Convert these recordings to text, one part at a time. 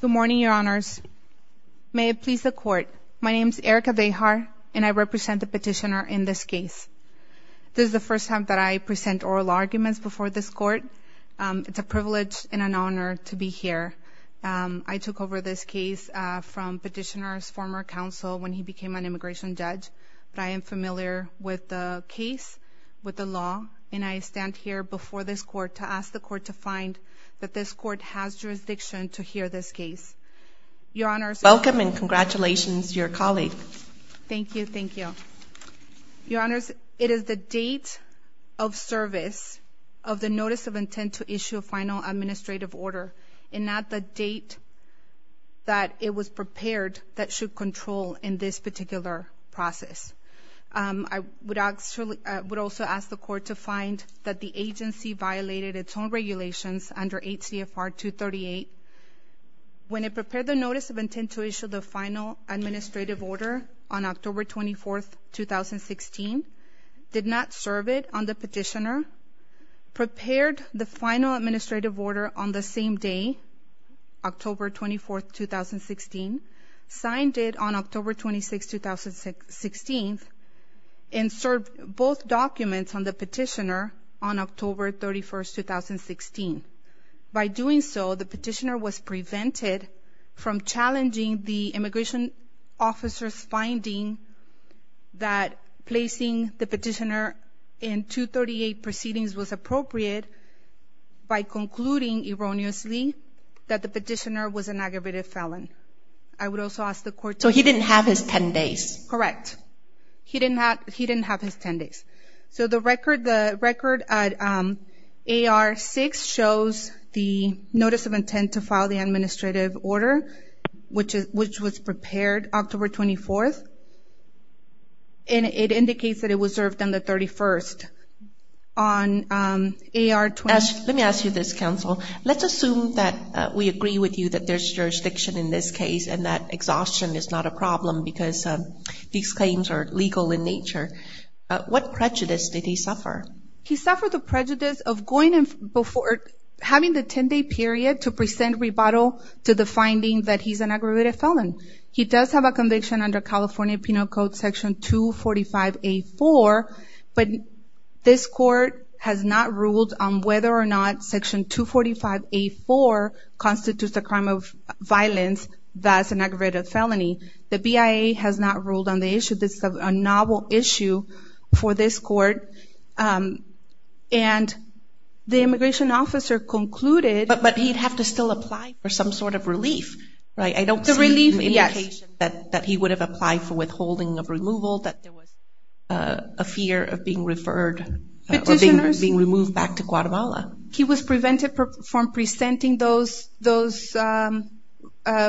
Good morning, your honors. May it please the court, my name is Erica Vejar and I represent the petitioner in this case. This is the first time that I present oral arguments before this court. It's a privilege and an honor to be here. I took over this case from petitioner's former counsel when he became an immigration judge, but I am familiar with the case, with the law, and I stand here before this court to ask the court to find that this court has jurisdiction to hear this case. Your honors... Welcome and congratulations to your colleague. Thank you, thank you. Your honors, it is the date of service of the notice of intent to issue a final administrative order and not the date that it was prepared that should control in this particular process. I would also ask the court to find that the agency violated its own regulations under H.C.F.R. 238 when it prepared the notice of intent to issue the final administrative order on October 24, 2016, did not serve it on the petitioner, prepared the final administrative order on the same day, October 24, 2016, signed it on October 26, 2016, and served both documents on the petitioner on October 31, 2016. By doing so, the petitioner was prevented from challenging the immigration officer's finding that placing the petitioner in 238 proceedings was appropriate by concluding erroneously that the petitioner was an aggravated felon. I would also ask the court to... So he didn't have his 10 days. Correct. He didn't have his 10 days. So the record at AR 6 shows the notice of intent to file the administrative order, which was prepared October 24, and it indicates that it was served on the 31st on AR... Let me ask you this, counsel. Let's assume that we agree with you that there's jurisdiction in this case and that exhaustion is not a problem because these claims are legal in nature. What prejudice did he suffer? He suffered the prejudice of having the 10-day period to present rebuttal to the finding that he's an aggravated felon. He does have a conviction under California Penal Code Section 245A4, but this court has not ruled on whether or not Section 245A4 constitutes a crime of violence, thus an aggravated felony. The BIA has not ruled on the issue. This is a novel issue for this court, and the immigration officer concluded... But he'd have to still apply for some sort of relief, right? I don't see the indication that he would have applied for withholding of removal, that there was a fear of being referred or being removed back to Guatemala. Petitioners, he was prevented from presenting those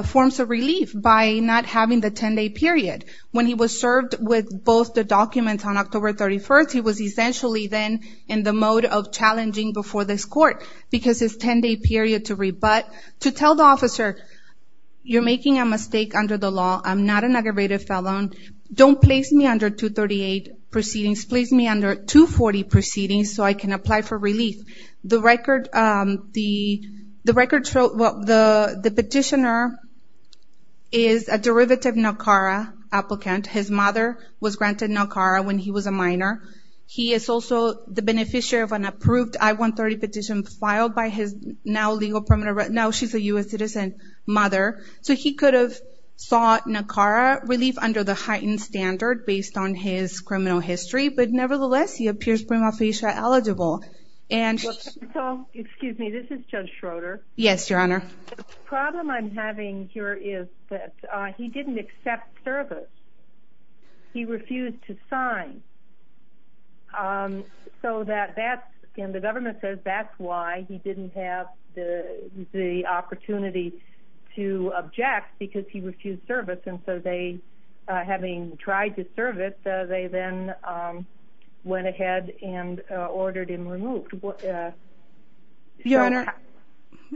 forms of relief by not having the 10-day period. When he was served with both the documents on October 31st, he was essentially then in the mode of challenging before this court because his 10-day period to rebut, to tell the officer, you're making a mistake under the law. I'm not an aggravated felon. Don't place me under 238 proceedings. Place me under 240 proceedings so I can apply for relief. The record... The petitioner is a derivative NACARA applicant. His mother was granted NACARA when he was a minor. He is also the beneficiary of an approved I-130 petition filed by his now legal permanent... Now she's a U.S. citizen mother, so he could have sought NACARA relief under the heightened standard based on his criminal history, but nevertheless, he appears prima facie eligible. And... So, excuse me, this is Judge Schroeder. Yes, Your Honor. The problem I'm having here is that he didn't accept service. He refused to sign. So that that's... And the government says that's why he didn't have the opportunity to object because he refused service. And so they, having tried to serve it, they then went ahead and ordered him removed. What... Your Honor...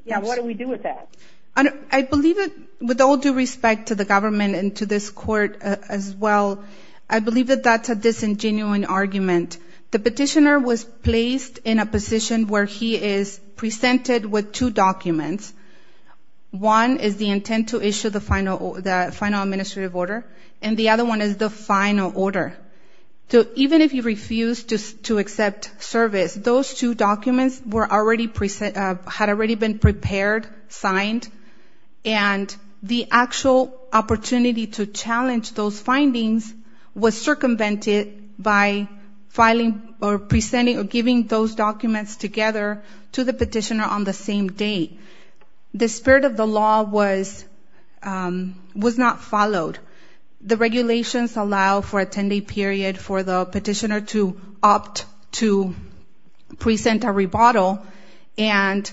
Yeah, what do we do with that? I believe it... With all due respect to the government and to this court as well, I believe that that's a disingenuous argument. The petitioner was placed in a position where he is presented with two documents. One is the intent to issue the final administrative order, and the other one is the final order. So even if he refused to accept service, those two documents were already... Had already been prepared, signed, and the actual opportunity to challenge those findings was circumvented by filing or presenting or giving those documents together to the petitioner on the same day. The spirit of the law was not followed. The regulations allow for a 10-day period for the petitioner to opt to present a rebuttal and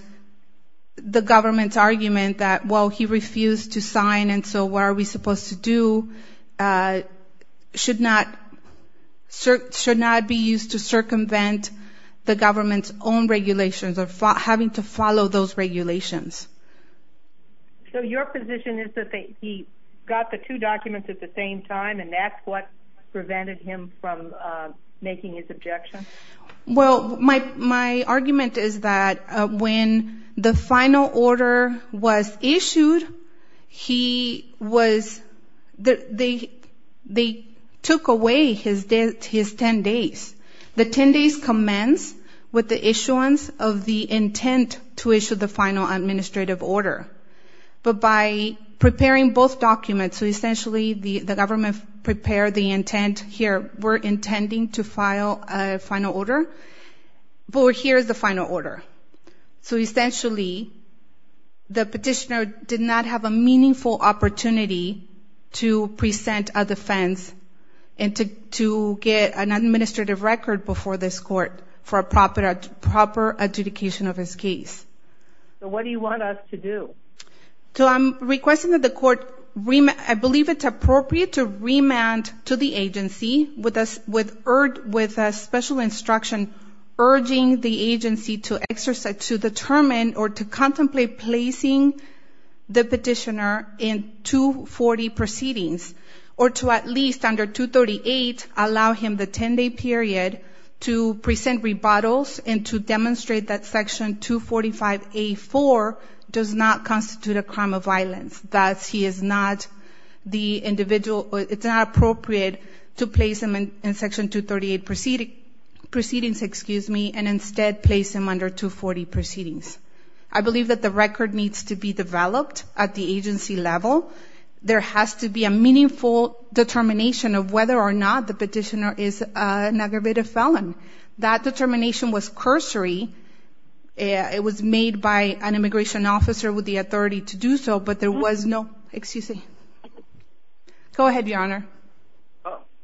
the government's argument that, well, he refused to sign and so what are we supposed to do, should not... Should not be used to circumvent the government's own regulations or having to follow those regulations. So your position is that he got the two documents at the same time and that's what prevented him from making his objection? Well, my argument is that when the final order was issued, he was... He was not prepared to... They took away his 10 days. The 10 days commenced with the issuance of the intent to issue the final administrative order. But by preparing both documents, so essentially the government prepared the intent, here we're intending to file a final order, but here is the final order. So essentially, the petitioner did not have a meaningful opportunity to file to present a defense and to get an administrative record before this court for a proper adjudication of his case. So what do you want us to do? So I'm requesting that the court remand... I believe it's appropriate to remand to the agency with a special instruction urging the agency to exercise... To determine or to contemplate placing the petitioner in 240 proceedings or to at least under 238 allow him the 10 day period to present rebuttals and to demonstrate that Section 245A.4 does not constitute a crime of violence. That he is not the individual... It's not appropriate to place him in Section 238 proceedings and instead place him under 240 proceedings. I believe that the record needs to be developed at the agency level. There has to be a meaningful determination of whether or not the petitioner is an aggravated felon. That determination was cursory. It was made by an immigration officer with the authority to do so, but there was no... Excuse me. Go ahead, Your Honor.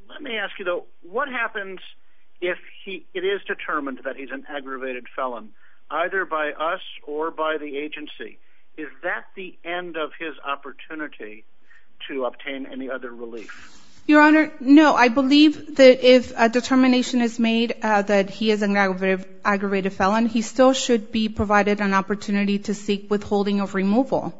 Let me ask you though, what happens if he... It is determined that he's an aggravated felon, either by us or by the agency. Is that the end of his opportunity to obtain any other relief? Your Honor, no. I believe that if a determination is made that he is an aggravated felon, he still should be provided an opportunity to seek withholding of removal.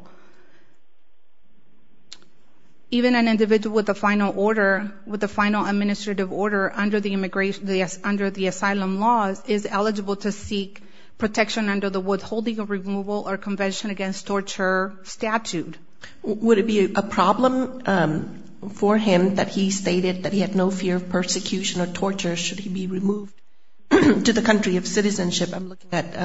Even an individual with a final order, with a final administrative order under the asylum laws is eligible to seek protection under the Withholding of Removal or Convention Against Torture statute. Would it be a problem for him that he stated that he had no fear of persecution or torture should he be removed to the country of citizenship? I'm looking at AR-5.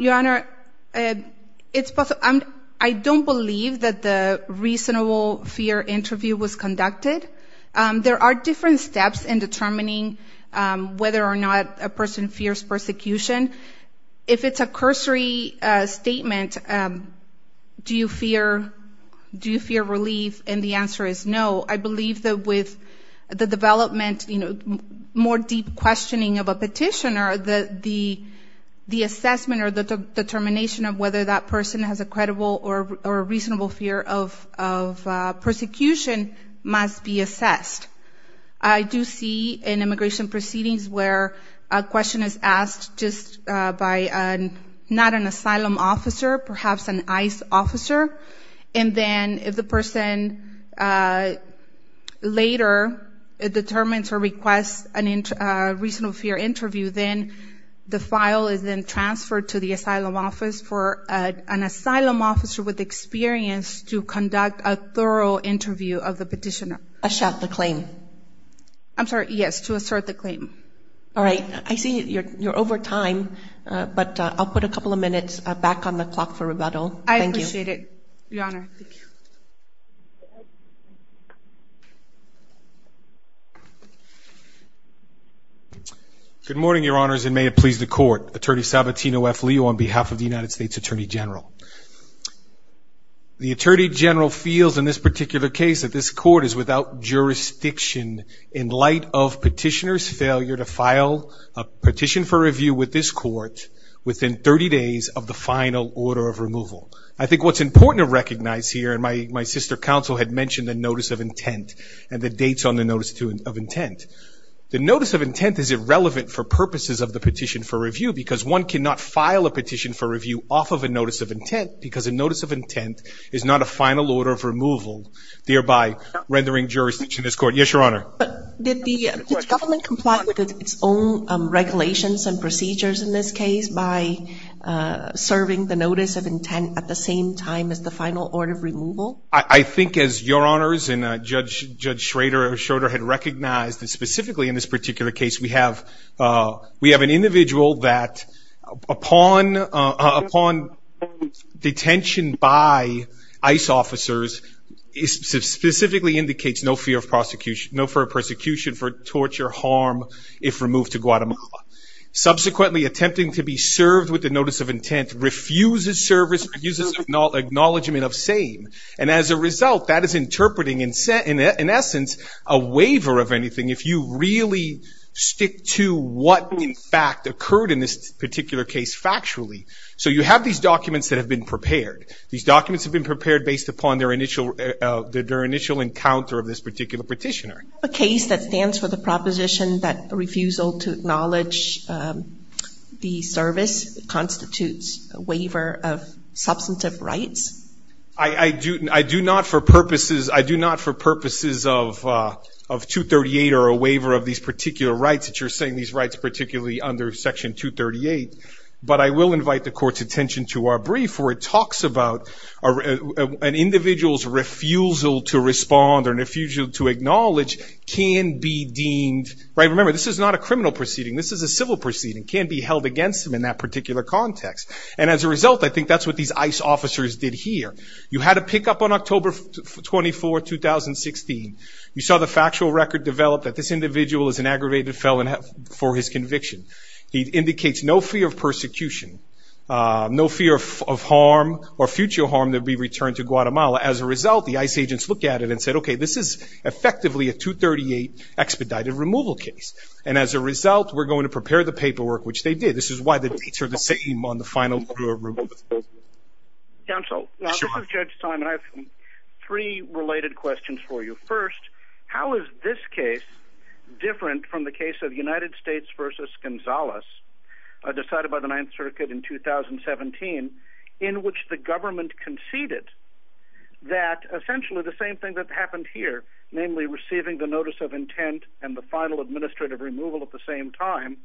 Your Honor, I don't believe that the reasonable fear interview was conducted. There are different steps in determining whether or not a person fears persecution. If it's a cursory statement, do you fear relief? And the answer is no. I believe that with the development, more deep questioning of a petitioner, the assessment or the determination of whether that person has a credible or reasonable fear of persecution must be assessed. I do see in immigration proceedings where a question is asked just by not an asylum officer, perhaps an ICE officer, and then if the person later determines or requests a reasonable fear interview, then the file is then transferred to the asylum office for an asylum officer with experience to conduct a thorough interview of the petitioner. To assert the claim? I'm sorry, yes, to assert the claim. All right, I see you're over time, but I'll put a couple of minutes back on the clock for rebuttal. Thank you. I appreciate it, Your Honor. Good morning, Your Honors, and may it please the Court. Attorney Salvatino F. Leo on behalf of the United States Attorney General. The Attorney General feels in this particular case that this Court is without jurisdiction in light of petitioner's failure to file a petition for review with this Court within 30 days of the final order of removal. I think what's important to recognize here, and my sister counsel had mentioned the notice of intent and the dates on the notice of intent. The notice of intent is irrelevant for purposes of the petition for review because one cannot file a petition for review off of a notice of intent because a notice of intent is not a final order of removal, thereby rendering jurisdiction to this Court. Yes, Your Honor. Did the government comply with its own regulations and procedures in this case by serving the notice of intent at the same time as the final order of removal? I think as Your Honors and Judge Schroeder had recognized that specifically in this particular case, we have an individual that upon detention by ICE officers specifically indicates no fear of persecution for torture, harm, if removed to Guatemala. Subsequently, attempting to be served with the notice of intent refuses service, refuses acknowledgment of same. And as a result, that is interpreting, in essence, a waiver of anything if you really stick to what, in fact, occurred in this particular case factually. So you have these documents that have been prepared. These documents have been prepared based upon their initial encounter of this particular petitioner. A case that stands for the proposition that refusal to acknowledge the service constitutes a waiver of substantive rights? I do not for purposes of 238 or a waiver of these particular rights that you're saying, these rights particularly under Section 238. But I will invite the Court's attention to our brief where it talks about an individual's refusal to respond or refusal to acknowledge can be deemed, right, remember, this is not a criminal proceeding. This is a civil proceeding, can be held against them in that particular context. And as a result, I think that's what these ICE officers did here. You had a pickup on October 24, 2016. You saw the factual record develop that this individual is an aggravated felon for his conviction. He indicates no fear of persecution, no fear of harm or future harm to be returned to Guatemala. As a result, the ICE agents looked at it and said, okay, this is effectively a 238 expedited removal case. And as a result, we're going to prepare the paperwork, which they did. This is why the dates are the same on the final approval. Counsel, this is Judge Simon. I have three related questions for you. First, how is this case different from the case of United States versus Gonzales decided by the Ninth Circuit in 2017, in which the government conceded that essentially the same thing that happened here, namely receiving the notice of intent and the final administrative removal at the time,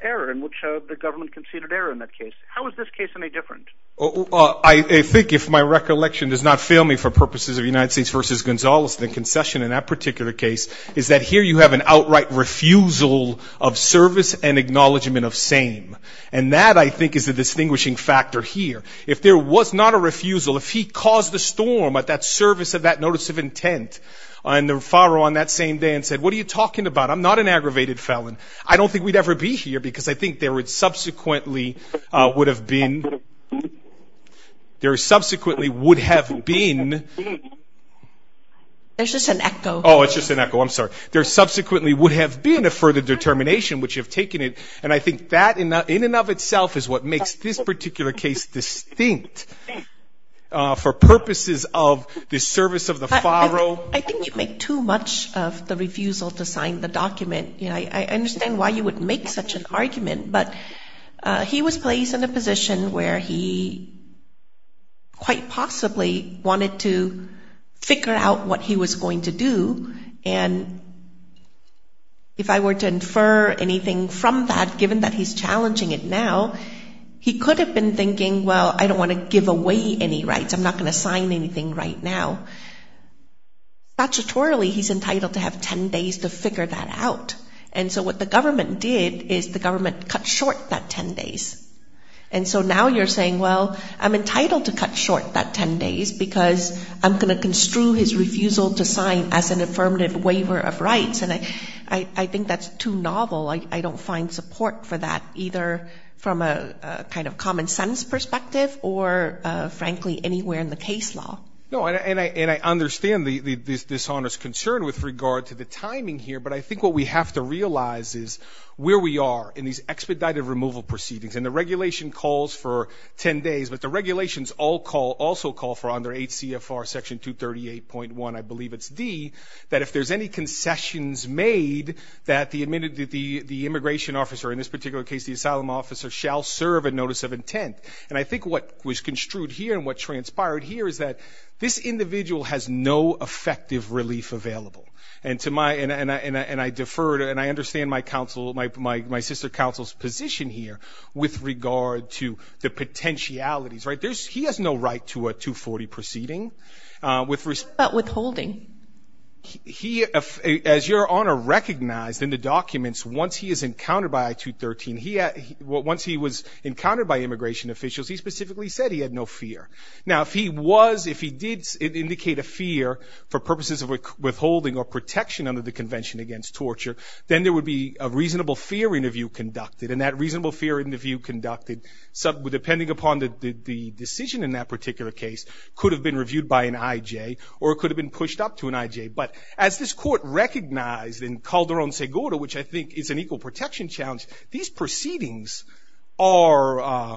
error in which the government conceded error in that case? How is this case any different? I think if my recollection does not fail me for purposes of United States versus Gonzales, the concession in that particular case is that here you have an outright refusal of service and acknowledgment of same. And that, I think, is the distinguishing factor here. If there was not a refusal, if he caused the storm at that service of that notice of intent and the referral on that same day and said, what are you talking about? I'm not an aggravated felon. I don't think we'd ever be here because I think there subsequently would have been a further determination, which you've taken it. And I think that in and of itself is what makes this particular case distinct for purposes of the service of the faro. I think you make too much of the refusal to sign the document. I understand why you would make such an argument, but he was placed in a position where he quite possibly wanted to figure out what he was going to do. And if I were to infer anything from that, given that he's challenging it now, he could have been thinking, well, I don't want to give away any rights. I'm not going to sign anything right now. Statutorily, he's entitled to have ten days to figure that out. And so what the government did is the government cut short that ten days. And so now you're saying, well, I'm entitled to cut short that ten days because I'm going to construe his refusal to sign as an affirmative waiver of rights. And I think that's too novel. I don't find support for that, either from a kind of common sense perspective or, frankly, anywhere in the case law. No, and I understand the dishonest concern with regard to the timing here, but I think what we have to realize is where we are in these expedited removal proceedings. And the regulation calls for ten days, but the regulations also call for under 8 CFR Section 238.1, I believe it's D, that if there's any concessions made that the immigration officer, in this And I think what was construed here and what transpired here is that this individual has no effective relief available. And to my, and I defer to, and I understand my counsel, my sister counsel's position here with regard to the potentialities, right? He has no right to a 240 proceeding. Withholding. He, as your Honor recognized in the documents, once he is encountered by I-213, once he was he specifically said he had no fear. Now, if he was, if he did indicate a fear for purposes of withholding or protection under the Convention Against Torture, then there would be a reasonable fear interview conducted. And that reasonable fear interview conducted, depending upon the decision in that particular case, could have been reviewed by an IJ or it could have been pushed up to an IJ. But as this Court recognized in Calderon-Segura, which I think is an equal protection challenge, these proceedings are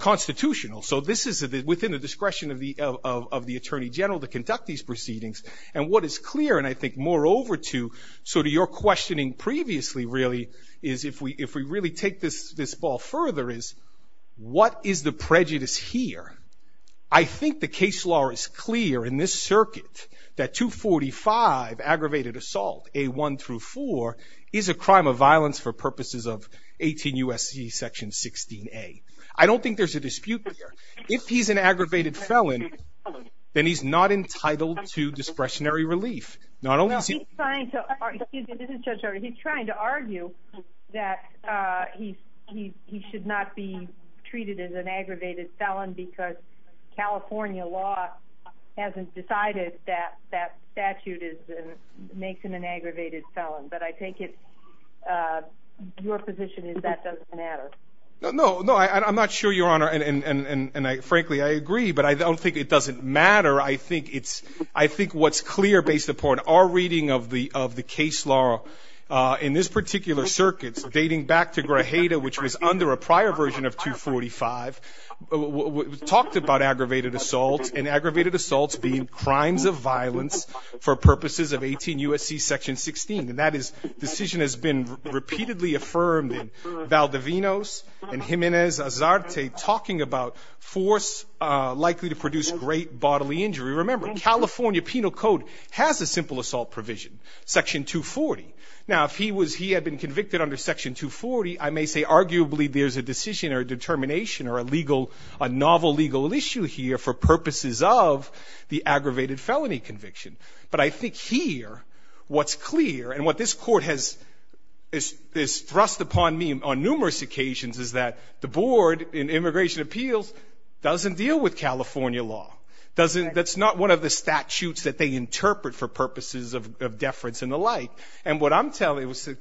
constitutional. So this is within the discretion of the Attorney General to conduct these proceedings. And what is clear, and I think moreover to sort of your questioning previously, really, is if we really take this ball further, is what is the prejudice here? I think the case law is clear in this circuit that 245, aggravated assault, A1 through 4, is a crime of violence for purposes of 18 U.S.C. Section 16A. I don't think there's a dispute there. If he's an aggravated felon, then he's not entitled to discretionary relief. Not only is he... He's trying to argue, he's trying to argue that he should not be treated as an aggravated felon because California law hasn't decided that that statute makes him an aggravated felon. But I take it your position is that doesn't matter. No, I'm not sure, Your Honor, and frankly I agree, but I don't think it doesn't matter. I think what's clear based upon our reading of the case law in this particular circuit dating back to Grajeda, which was under a prior version of 245, talked about aggravated assault and aggravated assaults being crimes of violence for purposes of 18 U.S.C. Section 16, and that decision has been repeatedly affirmed in Valdivinos and Jimenez-Azarte talking about force likely to produce great bodily injury. Remember, California Penal Code has a simple assault provision, Section 240. Now, if he had been convicted under Section 240, I may say arguably there's a decision or a determination or a novel legal issue here for purposes of the aggravated felony conviction. But I think here what's clear and what this Court has thrust upon me on numerous occasions is that the Board in Immigration Appeals doesn't deal with California law. That's not one of the statutes that they interpret for purposes of deference and the like. And what I'm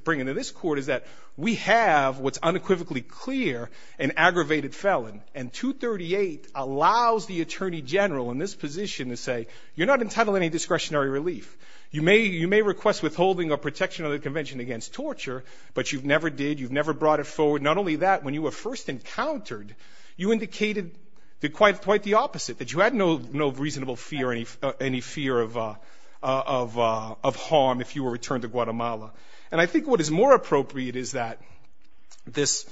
bringing to this Court is that we have what's unequivocally clear an aggravated felon, and 238 allows the Attorney General in this position to say, you're not entitled to any discretionary relief. You may request withholding or protection of the Convention against torture, but you never did, you never brought it forward. Not only that, when you were first encountered, you indicated quite the opposite, that you had no reasonable fear, any fear of harm if you were returned to Guatemala. And I think what is more appropriate is that this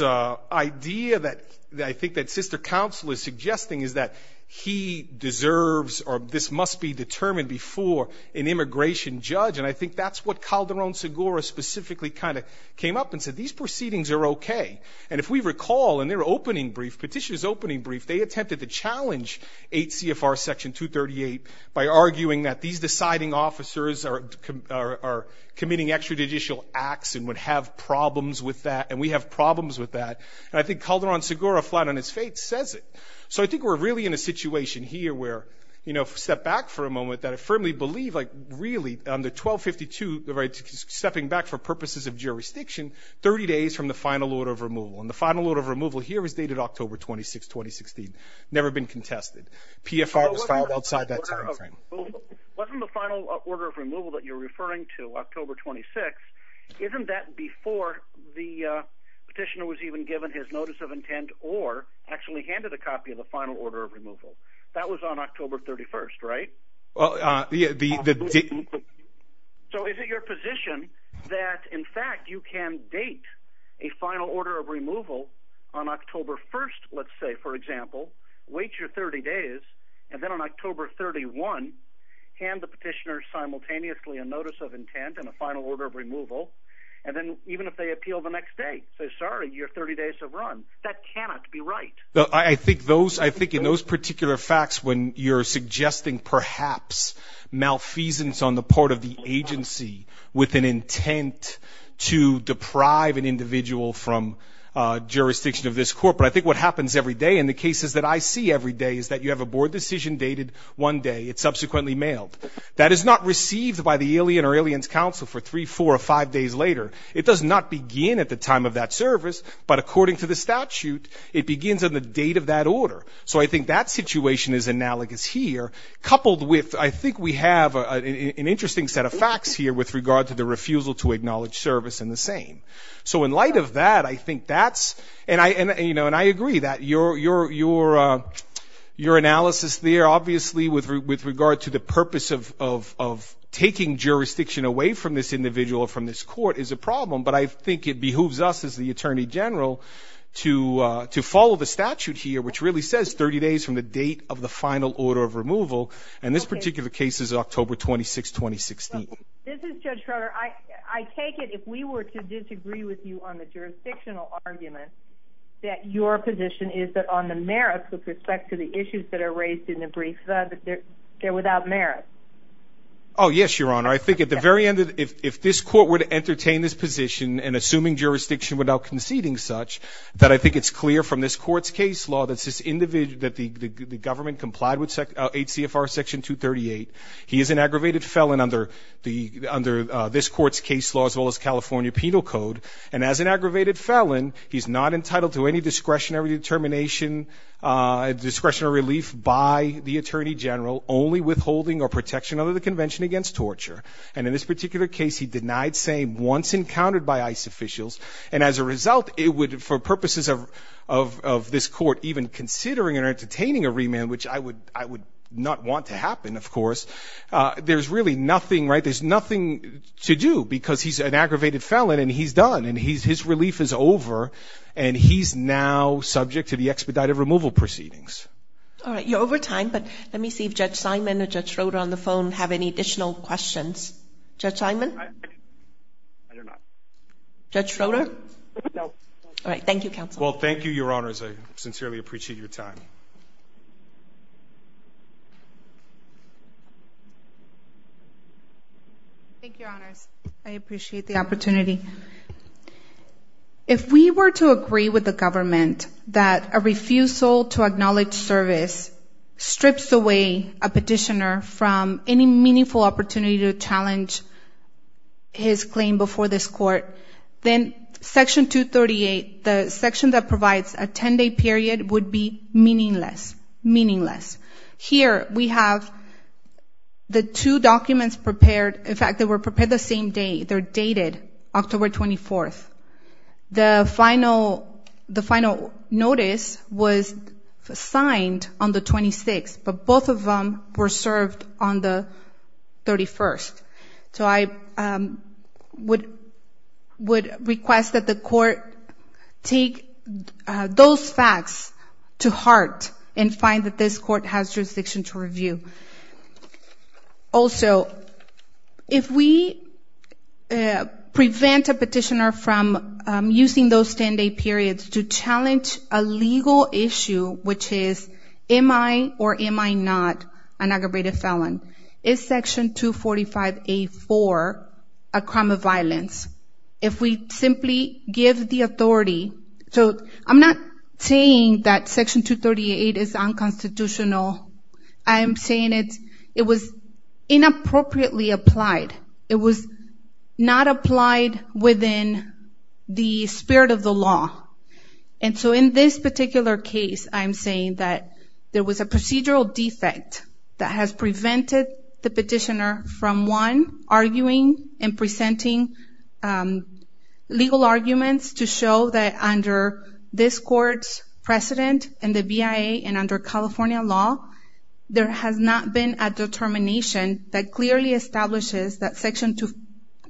idea that I think that Sister Counsel is suggesting is that he deserves or this must be determined before an immigration judge, and I think that's what Calderon-Segura specifically kind of came up and said, these proceedings are okay. And if we recall in their opening brief, Petitioner's opening brief, they attempted to challenge 8 CFR Section 238 by arguing that these deciding officers are committing extrajudicial acts and would have problems with that, and we have problems with that. And I think Calderon-Segura, flat on his face, says it. So I think we're really in a situation here where, you know, step back for a moment, that I firmly believe, like, really, the 1252, stepping back for purposes of jurisdiction, 30 days from the final order of removal. And the final order of removal here is dated October 26, 2016. Never been contested. PFR was filed outside that time frame. Wasn't the final order of removal that you're referring to, October 26, isn't that before the Petitioner was even given his notice of intent or actually handed a copy of the final order of removal? That was on October 31, right? Well, the... So is it your position that, in fact, you can date a final order of removal on October 1, let's say, for example, wait your 30 days, and then on October 31, hand the Petitioner simultaneously a notice of intent and a final order of removal, and then, even if they appeal the next day, say, sorry, your 30 days have run? That cannot be right. I think those, I think in those particular facts, when you're suggesting, perhaps, malfeasance on the part of the agency with an intent to deprive an individual from jurisdiction of this court, but I think what happens every day in the cases that I see every day is that you have a board decision dated one day. It's subsequently mailed. That is not received by the Iliad or Iliad's counsel for three, four, or five days later. It does not begin at the time of that service, but according to the statute, it begins at the date of that order. I think that situation is analogous here, coupled with, I think we have an interesting set of facts here with regard to the refusal to acknowledge service in the same. In light of that, I think that's, and I agree that your analysis there, obviously, with regard to the purpose of taking jurisdiction away from this individual, from this court, is a problem, but I think it behooves us as the Attorney General to follow the statute here, which really says 30 days from the date of the final order of removal, and this particular case is October 26, 2016. This is Judge Trotter. I take it if we were to disagree with you on the jurisdictional argument, that your position is that on the merits with respect to the issues that are raised in the brief, that they're without merit. Oh, yes, Your Honor. I think at the very end, if this court were to entertain this position in assuming jurisdiction without conceding such, that I think it's clear from this court's case law that the government complied with 8 CFR Section 238. He is an aggravated felon under this court's case law, as well as California Penal Code, and as an aggravated felon, he's not entitled to any discretionary determination, discretionary relief by the Attorney General, only withholding or protection under the Convention Against Torture, and in this particular case, he denied saying once encountered by ICE officials, and as a result, it would, for purposes of this court, even considering or entertaining a remand, which I would not want to happen, of course, there's really nothing, right? There's nothing to do, because he's an aggravated felon and he's done, and his relief is over, and he's now subject to the expedited removal proceedings. All right. You're over time, but let me see if Judge Simon or Judge Trotter on the phone have any additional questions. Judge Simon? I do not. Judge Trotter? No. All right. Thank you, counsel. Well, thank you, Your Honors. I sincerely appreciate your time. Thank you, Your Honors. I appreciate the opportunity. If we were to agree with the government that a refusal to acknowledge service strips away a petitioner from any meaningful opportunity to challenge his claim before this court, then Section 238, the section that provides a 10-day period, would be meaningless. Here, we have the two documents prepared. In fact, they were prepared the same day. They're dated October 24th. The final notice was signed on the 26th, but both of them were served on the 31st. So I would request that the court take those facts to heart and find that this court has jurisdiction to review. Also, if we prevent a petitioner from using those 10-day periods to challenge a legal issue, which is, am I or am I not an aggravated felon, is Section 245A.4 a crime of violence? If we simply give the authority, so I'm not saying that Section 238 is unconstitutional. I am saying it was inappropriately applied. It was not applied within the spirit of the case. I'm saying that there was a procedural defect that has prevented the petitioner from one, arguing and presenting legal arguments to show that under this court's precedent and the BIA and under California law, there has not been a determination that clearly establishes that Section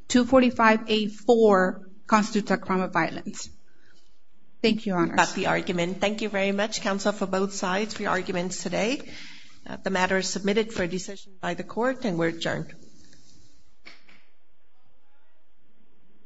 245A.4 constitutes a crime of violence. Thank you, Your Honor. Thank you very much, counsel, for both sides for your arguments today. The matter is submitted for a decision by the court and we're adjourned.